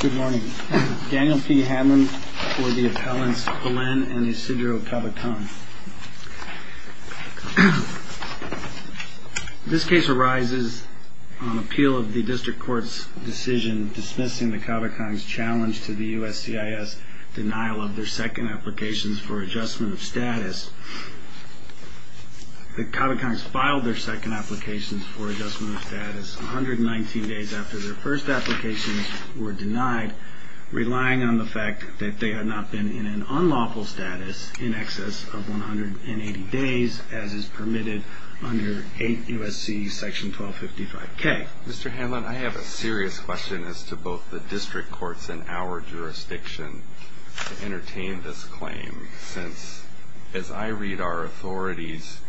Good morning. Daniel P. Hammond for the appellants Belen and Isidro Cabacang. This case arises on appeal of the district court's decision dismissing the Cabacangs' challenge to the USCIS denial of their second applications for adjustment of status. The Cabacangs filed their second applications for adjustment of status 119 days after their first applications were denied, relying on the fact that they had not been in an unlawful status in excess of 180 days, as is permitted under 8 U.S.C. section 1255K. Mr. Hammond, I have a serious question as to both the district courts in our jurisdiction to entertain this claim, since, as I read our authorities,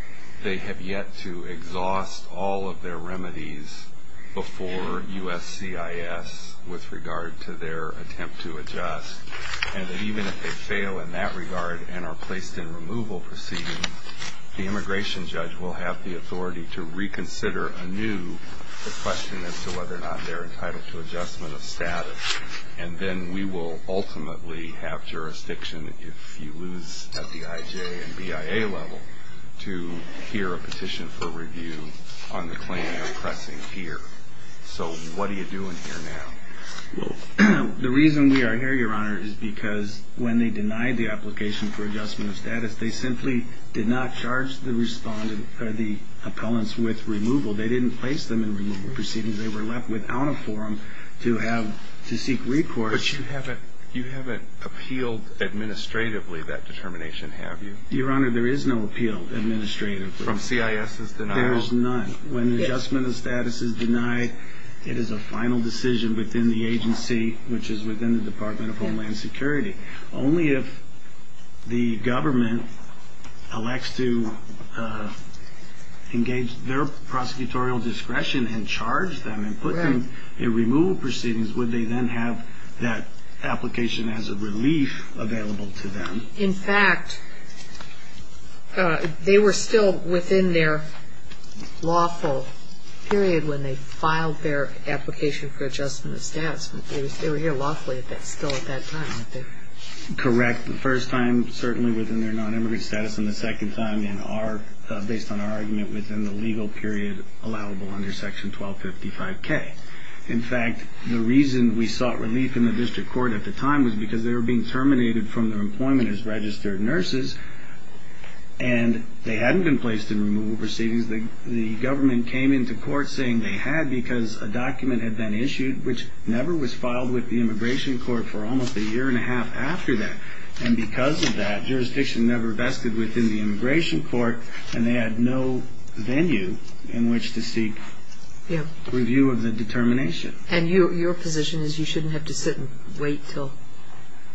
they have yet to exhaust all of their remedies before USCIS with regard to their attempt to adjust, and that even if they fail in that regard and are placed in removal proceedings, the immigration judge will have the authority to reconsider anew the question as to whether or not they're entitled to adjustment of status, and then we will ultimately have jurisdiction, if you lose at the IJ and BIA level, to hear a petition for review on the claim you're pressing here. So what are you doing here now? Well, the reason we are here, Your Honor, is because when they denied the application for adjustment of status, they simply did not charge the appellants with removal. They didn't place them in removal proceedings. They were left without a forum to seek recourse. But you haven't appealed administratively that determination, have you? Your Honor, there is no appeal administratively. From CIS's denial? There is none. When adjustment of status is denied, it is a final decision within the agency, which is within the Department of Homeland Security. Only if the government elects to engage their prosecutorial discretion and charge them and put them in removal proceedings would they then have that application as a relief available to them. In fact, they were still within their lawful period when they filed their application for adjustment of status. They were here lawfully still at that time, weren't they? Correct. The first time, certainly, within their nonimmigrant status, and the second time, based on our argument, within the legal period allowable under Section 1255K. In fact, the reason we sought relief in the district court at the time was because they were being terminated from their employment as registered nurses, and they hadn't been placed in removal proceedings. The government came into court saying they had because a document had been issued, which never was filed with the immigration court for almost a year and a half after that. And because of that, jurisdiction never vested within the immigration court, and they had no venue in which to seek review of the determination. And your position is you shouldn't have to sit and wait until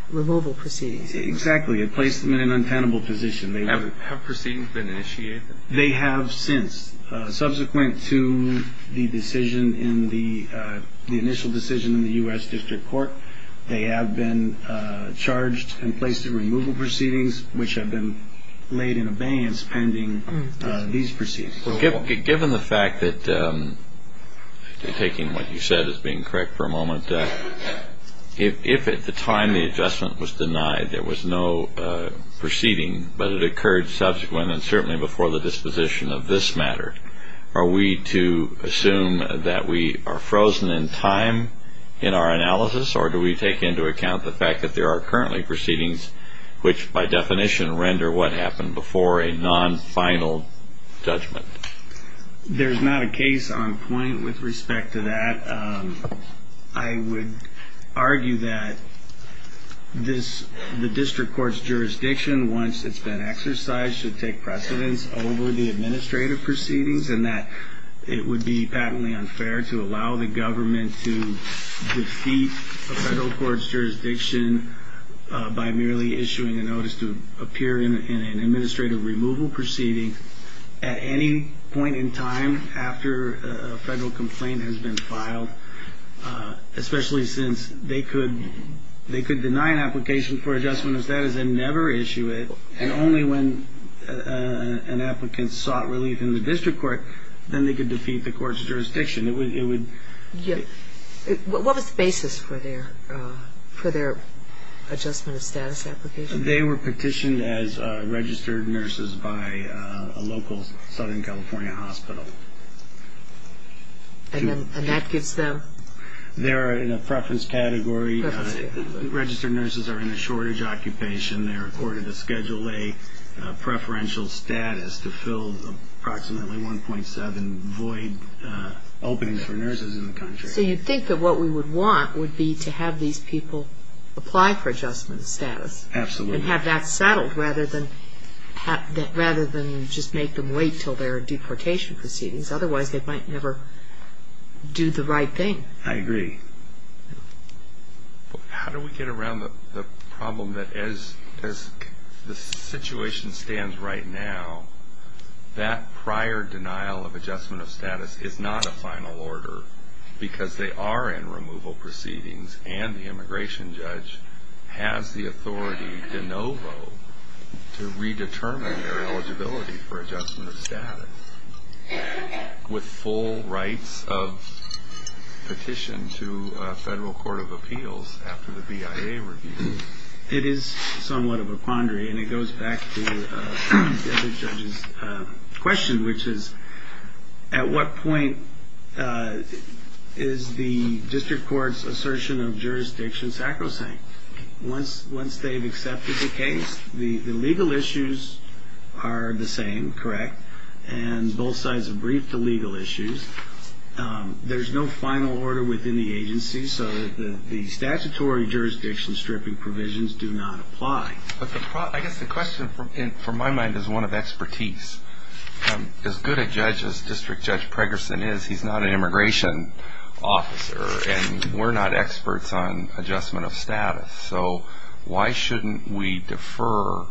removal proceedings. Exactly. It placed them in an untenable position. Have proceedings been initiated? They have since. Subsequent to the initial decision in the U.S. District Court, they have been charged and placed in removal proceedings, which have been laid in abeyance pending these proceedings. Given the fact that, taking what you said as being correct for a moment, if at the time the adjustment was denied there was no proceeding, but it occurred subsequently and certainly before the disposition of this matter, are we to assume that we are frozen in time in our analysis, or do we take into account the fact that there are currently proceedings which by definition render what happened before a non-final judgment? There's not a case on point with respect to that. I would argue that the district court's jurisdiction, once it's been exercised, should take precedence over the administrative proceedings, and that it would be patently unfair to allow the government to defeat a federal court's jurisdiction by merely issuing a notice to appear in an administrative removal proceeding at any point in time after a federal complaint has been filed, especially since they could deny an application for adjustment of status and never issue it, and only when an applicant sought relief in the district court, then they could defeat the court's jurisdiction. What was the basis for their adjustment of status application? They were petitioned as registered nurses by a local Southern California hospital. And that gives them? They're in a preference category. Registered nurses are in a shortage occupation. They're ordered to schedule a preferential status to fill approximately 1.7 void openings for nurses in the country. So you think that what we would want would be to have these people apply for adjustment of status? Absolutely. And have that settled rather than just make them wait until their deportation proceedings. Otherwise, they might never do the right thing. I agree. How do we get around the problem that as the situation stands right now, that prior denial of adjustment of status is not a final order? Because they are in removal proceedings, and the immigration judge has the authority de novo to redetermine their eligibility for adjustment of status with full rights of petition to a federal court of appeals after the BIA review. It is somewhat of a quandary, and it goes back to the other judge's question, which is, at what point is the district court's assertion of jurisdiction sacrosanct? Once they've accepted the case, the legal issues are the same, correct? And both sides have briefed the legal issues. There's no final order within the agency, so the statutory jurisdiction stripping provisions do not apply. I guess the question, from my mind, is one of expertise. As good a judge as District Judge Pregerson is, he's not an immigration officer, and we're not experts on adjustment of status. So why shouldn't we defer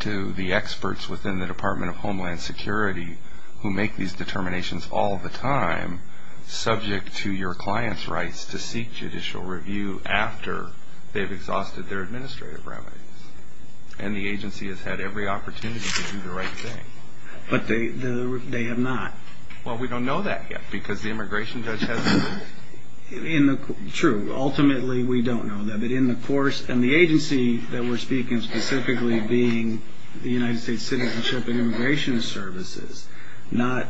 to the experts within the Department of Homeland Security, who make these determinations all the time, subject to your client's rights to seek judicial review after they've exhausted their administrative remedies? And the agency has had every opportunity to do the right thing. But they have not. Well, we don't know that yet, because the immigration judge has the authority. True. Ultimately, we don't know that. And the agency that we're speaking of specifically being the United States Citizenship and Immigration Services, not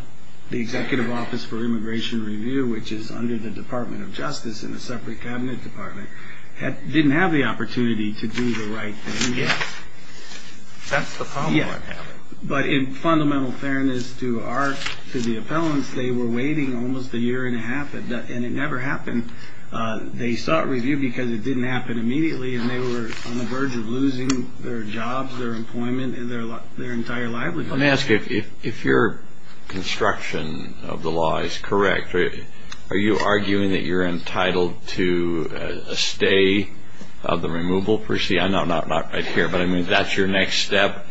the Executive Office for Immigration Review, which is under the Department of Justice in a separate cabinet department, didn't have the opportunity to do the right thing yet. But in fundamental fairness to the appellants, they were waiting almost a year and a half, and it never happened. They sought review because it didn't happen immediately, and they were on the verge of losing their jobs, their employment, and their entire livelihood. Let me ask you, if your construction of the law is correct, are you arguing that you're entitled to a stay of the removal? I know I'm not right here, but I mean, if that's your next step,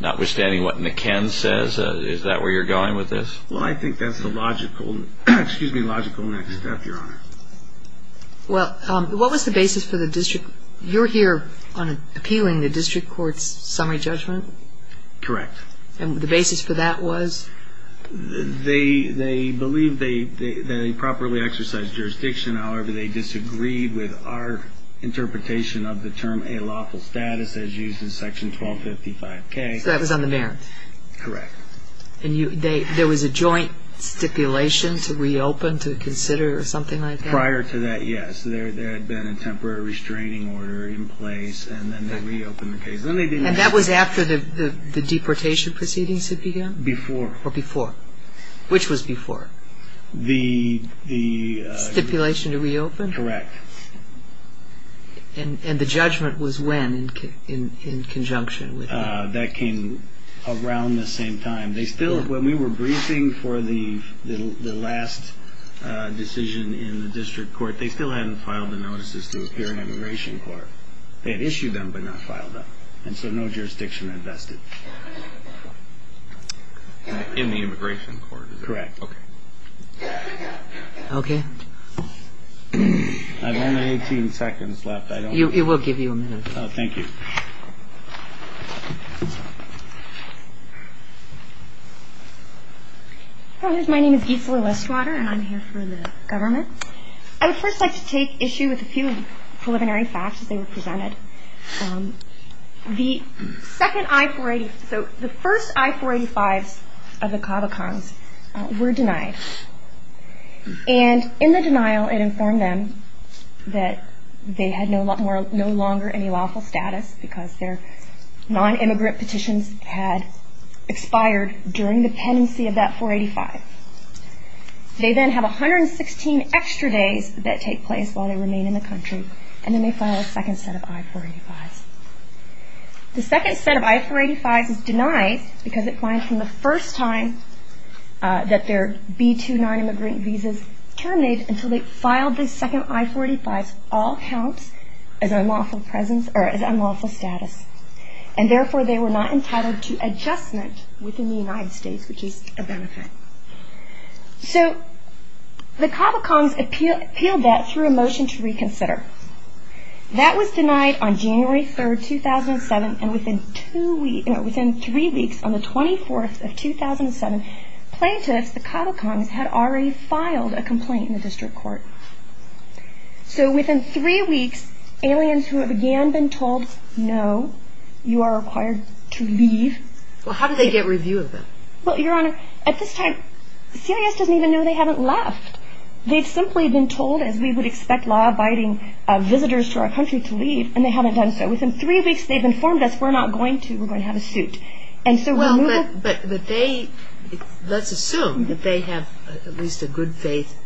notwithstanding what McKen says, is that where you're going with this? Well, I think that's the logical next step, Your Honor. Well, what was the basis for the district? You're here appealing the district court's summary judgment? Correct. And the basis for that was? They believe they properly exercised jurisdiction. However, they disagreed with our interpretation of the term a lawful status as used in Section 1255K. So that was on the merits? Correct. And there was a joint stipulation to reopen, to consider, or something like that? Prior to that, yes. There had been a temporary restraining order in place, and then they reopened the case. And that was after the deportation proceedings had begun? Before. Or before. Which was before? The... Stipulation to reopen? Correct. And the judgment was when, in conjunction with that? That came around the same time. When we were briefing for the last decision in the district court, they still hadn't filed the notices to appear in immigration court. They had issued them, but not filed them. And so no jurisdiction invested. In the immigration court? Correct. Okay. Okay. I have only 18 seconds left. It will give you a minute. Thank you. My name is Gisela Westwater, and I'm here for the government. I would first like to take issue with a few preliminary facts as they were presented. The second I-485, so the first I-485s of the CAVICOMs were denied. And in the denial, it informed them that they had no longer any lawful status, because their non-immigrant petitions had expired during the pendency of that 485. They then have 116 extra days that take place while they remain in the country, and then they file a second set of I-485s. The second set of I-485s is denied because it finds from the first time that their B-2 non-immigrant visas terminate until they file the second I-485s all counts as unlawful presence or as unlawful status. And therefore, they were not entitled to adjustment within the United States, which is a benefit. So the CAVICOMs appealed that through a motion to reconsider. That was denied on January 3, 2007, and within three weeks, on the 24th of 2007, plaintiffs, the CAVICOMs, had already filed a complaint in the district court. So within three weeks, aliens who have again been told, no, you are required to leave. Well, how do they get review of them? Well, Your Honor, at this time, CIS doesn't even know they haven't left. They've simply been told, as we would expect law-abiding visitors to our country, to leave, and they haven't done so. Within three weeks, they've informed us we're not going to, we're going to have a suit. Well, but they, let's assume that they have at least a good faith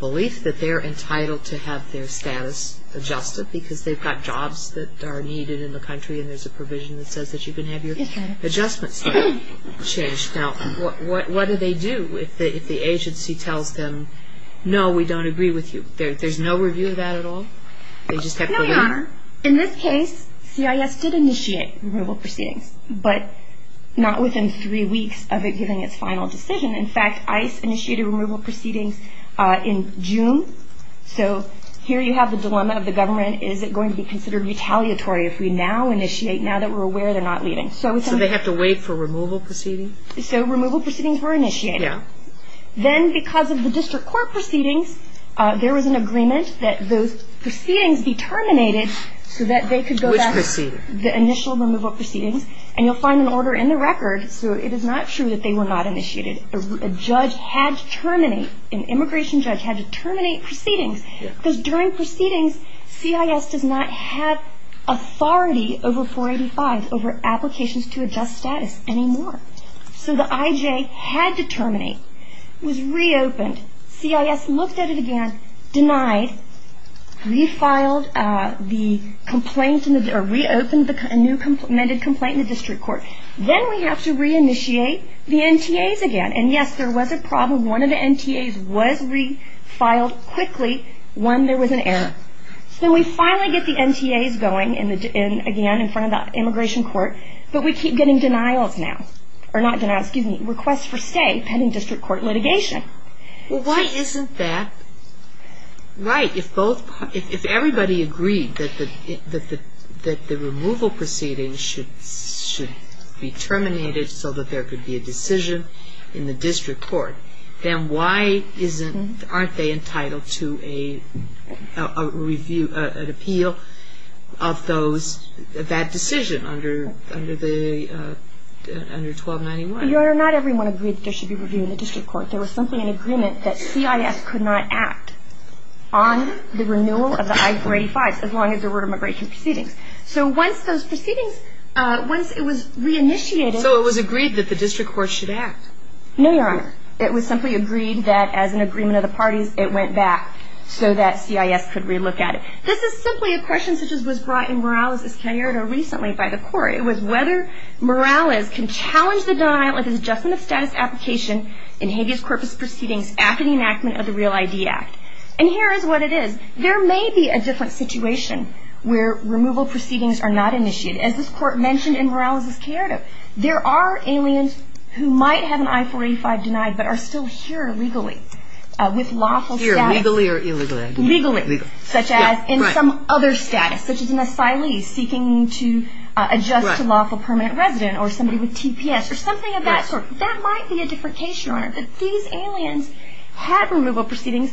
belief that they're entitled to have their status adjusted because they've got jobs that are needed in the country and there's a provision that says that you can have your adjustment status changed. Now, what do they do if the agency tells them, no, we don't agree with you? There's no review of that at all? No, Your Honor. In this case, CIS did initiate removal proceedings, but not within three weeks of it giving its final decision. In fact, ICE initiated removal proceedings in June. So here you have the dilemma of the government. Is it going to be considered retaliatory if we now initiate now that we're aware they're not leaving? So they have to wait for removal proceedings? So removal proceedings were initiated. Yeah. And then because of the district court proceedings, there was an agreement that those proceedings be terminated so that they could go back. Which proceedings? The initial removal proceedings. And you'll find an order in the record, so it is not true that they were not initiated. A judge had to terminate, an immigration judge had to terminate proceedings because during proceedings, CIS does not have authority over 485, over applications to adjust status anymore. So the IJ had to terminate. It was reopened. CIS looked at it again, denied, refiled the complaint or reopened a new amended complaint in the district court. Then we have to reinitiate the NTAs again. And, yes, there was a problem. One of the NTAs was refiled quickly when there was an error. So we finally get the NTAs going again in front of the immigration court, but we keep getting denials now. Or not denials, excuse me, requests for stay pending district court litigation. Well, why isn't that right? If everybody agreed that the removal proceedings should be terminated so that there could be a decision in the district court, then why aren't they entitled to a review, an appeal of that decision under 1291? Your Honor, not everyone agreed there should be a review in the district court. There was simply an agreement that CIS could not act on the renewal of the I485s as long as there were immigration proceedings. So once those proceedings, once it was reinitiated So it was agreed that the district court should act? No, Your Honor. It was simply agreed that, as an agreement of the parties, it went back so that CIS could relook at it. This is simply a question such as was brought in Morales' caretta recently by the court. It was whether Morales can challenge the denial of his adjustment of status application in habeas corpus proceedings after the enactment of the Real ID Act. And here is what it is. There may be a different situation where removal proceedings are not initiated. As this court mentioned in Morales' caretta, there are aliens who might have an I485 denied but are still here illegally with lawful status. Here legally or illegally? Legally. Such as in some other status, such as an asylee seeking to adjust to lawful permanent resident or somebody with TPS or something of that sort. That might be a different case, Your Honor. These aliens had removal proceedings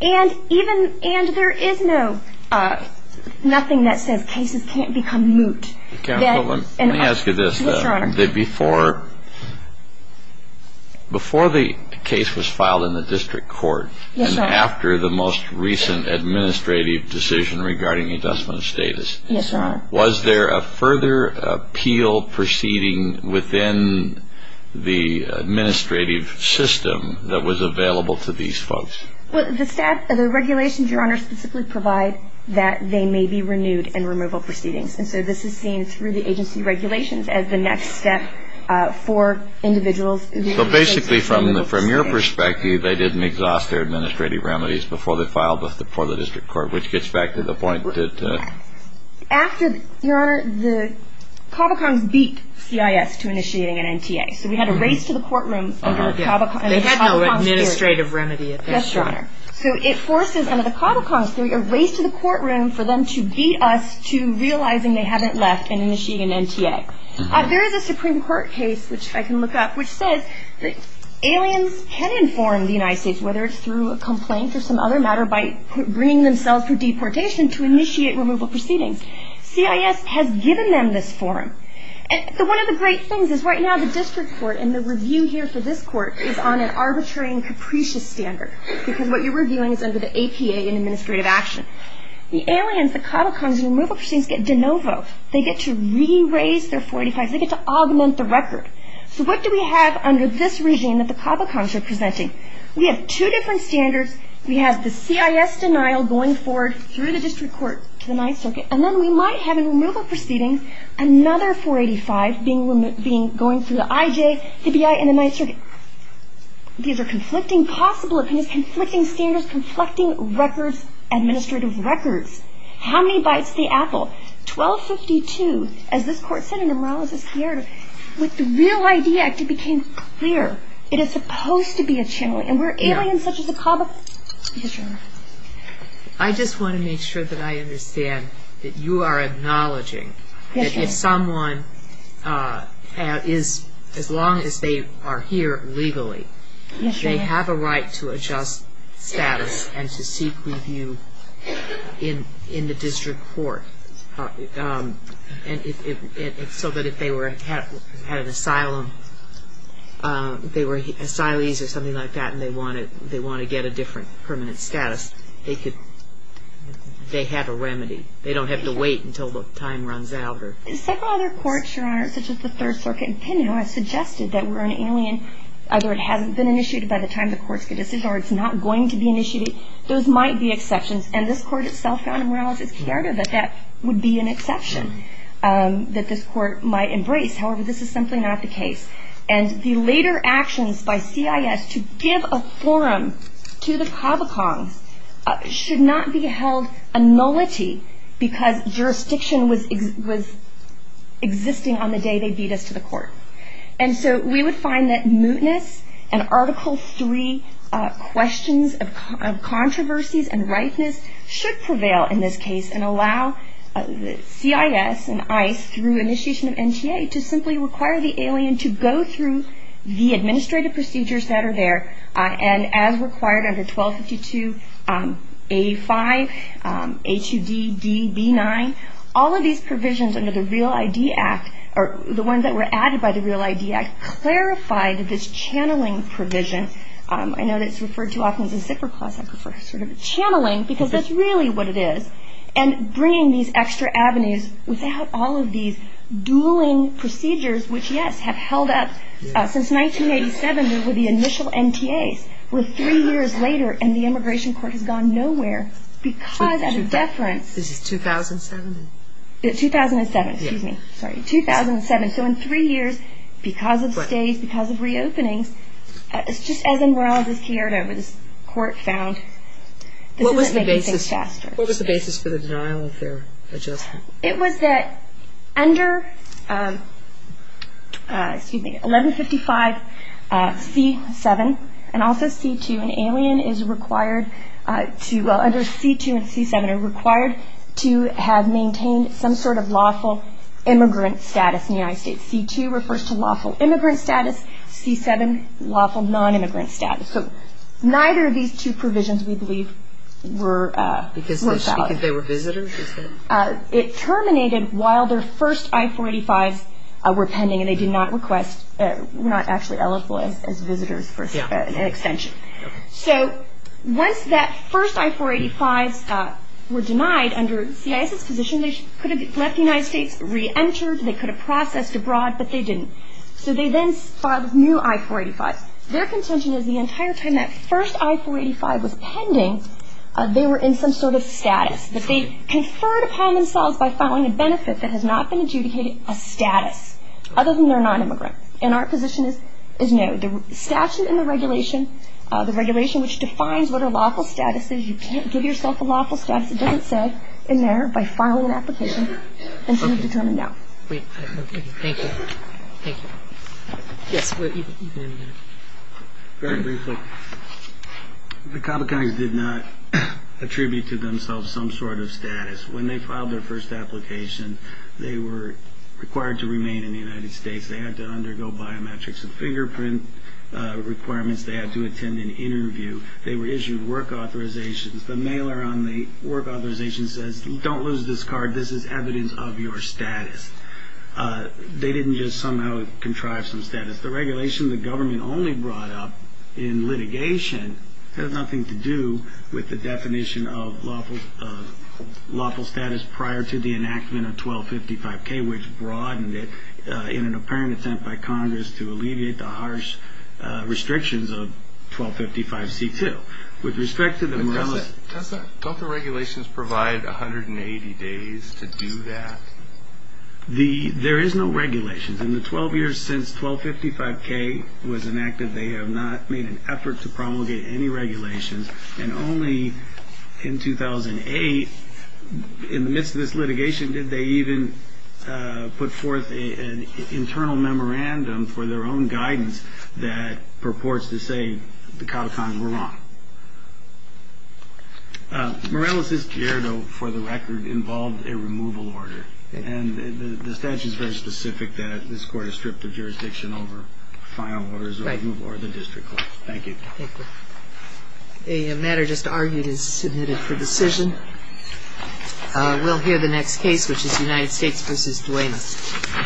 and there is nothing that says cases can't become moot. Counsel, let me ask you this. Yes, Your Honor. Before the case was filed in the district court and after the most recent administrative decision regarding adjustment of status, was there a further appeal proceeding within the administrative system that was available to these folks? The regulations, Your Honor, specifically provide that they may be renewed in removal proceedings. And so this is seen through the agency regulations as the next step for individuals. So basically from your perspective, they didn't exhaust their administrative remedies before they filed before the district court, which gets back to the point that... After, Your Honor, the Cavalcons beat CIS to initiating an NTA. So we had a race to the courtroom under the Cavalcons' spirit. They had no administrative remedy at that point. Yes, Your Honor. So it forces under the Cavalcons' theory a race to the courtroom for them to beat us to realizing they haven't left and initiating an NTA. There is a Supreme Court case, which I can look up, which says that aliens can inform the United States, whether it's through a complaint or some other matter, by bringing themselves for deportation to initiate removal proceedings. CIS has given them this forum. One of the great things is right now the district court and the review here for this court is on an arbitrary and capricious standard because what you're reviewing is under the APA in administrative action. The aliens, the Cavalcons, in removal proceedings get de novo. They get to re-raise their 485s. They get to augment the record. So what do we have under this regime that the Cavalcons are presenting? We have two different standards. We have the CIS denial going forward through the district court to the Ninth Circuit, and then we might have in removal proceedings another 485 going through the IJ, the BI, and the Ninth Circuit. These are conflicting possibilities, conflicting standards, conflicting records, administrative records. How many bites the apple? 1252, as this court said in the Morales-Guerrero, with the Real ID Act it became clear it is supposed to be a channel. And where aliens such as the Cavalcons... Yes, Your Honor. I just want to make sure that I understand that you are acknowledging that if someone is, as long as they are here legally, they have a right to adjust status and to seek review in the district court. So that if they had an asylum, they were asylees or something like that and they want to get a different permanent status, they have a remedy. They don't have to wait until the time runs out. Several other courts, Your Honor, such as the Third Circuit, have suggested that we're an alien, either it hasn't been initiated by the time the court's got a decision or it's not going to be initiated. Those might be exceptions. And this court itself found in Morales-Guerrero that that would be an exception that this court might embrace. However, this is simply not the case. And the later actions by CIS to give a forum to the Cavalcons should not be held a nullity because jurisdiction was existing on the day they beat us to the court. And so we would find that mootness and Article 3 questions of controversies and ripeness should prevail in this case and allow CIS and ICE through initiation of NTA to simply require the alien to go through the administrative procedures that are there and as required under 1252A5, A2D, D, B9, all of these provisions under the Real ID Act or the ones that were added by the Real ID Act clarified this channeling provision. I know that it's referred to often as a zipper clasp. I prefer sort of channeling because that's really what it is. And bringing these extra avenues without all of these dueling procedures, which, yes, have held up since 1987 with the initial NTAs, were three years later and the immigration court has gone nowhere because of deference. This is 2007? It's 2007. Excuse me. Sorry. 2007. So in three years, because of stays, because of reopenings, it's just as in Morales v. Chiarito where this court found this isn't making things faster. What was the basis for the denial of their adjustment? It was that under 1155C7 and also C2, an alien is required to well, under C2 and C7 are required to have maintained some sort of lawful immigrant status in the United States. C2 refers to lawful immigrant status. C7, lawful nonimmigrant status. So neither of these two provisions, we believe, worked out. Because they were visitors? It terminated while their first I-485s were pending and they did not request, were not actually eligible as visitors for an extension. So once that first I-485s were denied under CIS's position, they could have left the United States, re-entered, they could have processed abroad, but they didn't. So they then filed new I-485s. Their contention is the entire time that first I-485 was pending, they were in some sort of status, that they conferred upon themselves by filing a benefit that has not been adjudicated a status other than they're nonimmigrant. And our position is no. The statute and the regulation, the regulation which defines what a lawful status is, you can't give yourself a lawful status, it doesn't say, in there, by filing an application until you've determined no. Thank you. Thank you. Yes, you can end there. Very briefly. The Kabbakhans did not attribute to themselves some sort of status. When they filed their first application, they were required to remain in the United States. They had to undergo biometrics and fingerprint requirements. They had to attend an interview. They were issued work authorizations. The mailer on the work authorization says, don't lose this card, this is evidence of your status. They didn't just somehow contrive some status. The regulation the government only brought up in litigation has nothing to do with the definition of lawful status prior to the enactment of 1255K, which broadened it in an apparent attempt by Congress to alleviate the harsh restrictions of 1255C2. With respect to the Morelis. Don't the regulations provide 180 days to do that? There is no regulation. In the 12 years since 1255K was enacted, they have not made an effort to promulgate any regulations. And only in 2008, in the midst of this litigation, did they even put forth an internal memorandum for their own guidance that purports to say the Cotacons were wrong. Morelis's gerdo, for the record, involved a removal order. And the statute is very specific that this Court has stripped the jurisdiction over file orders or the district court. Thank you. Thank you. A matter just argued is submitted for decision. We'll hear the next case, which is United States v. Duenas.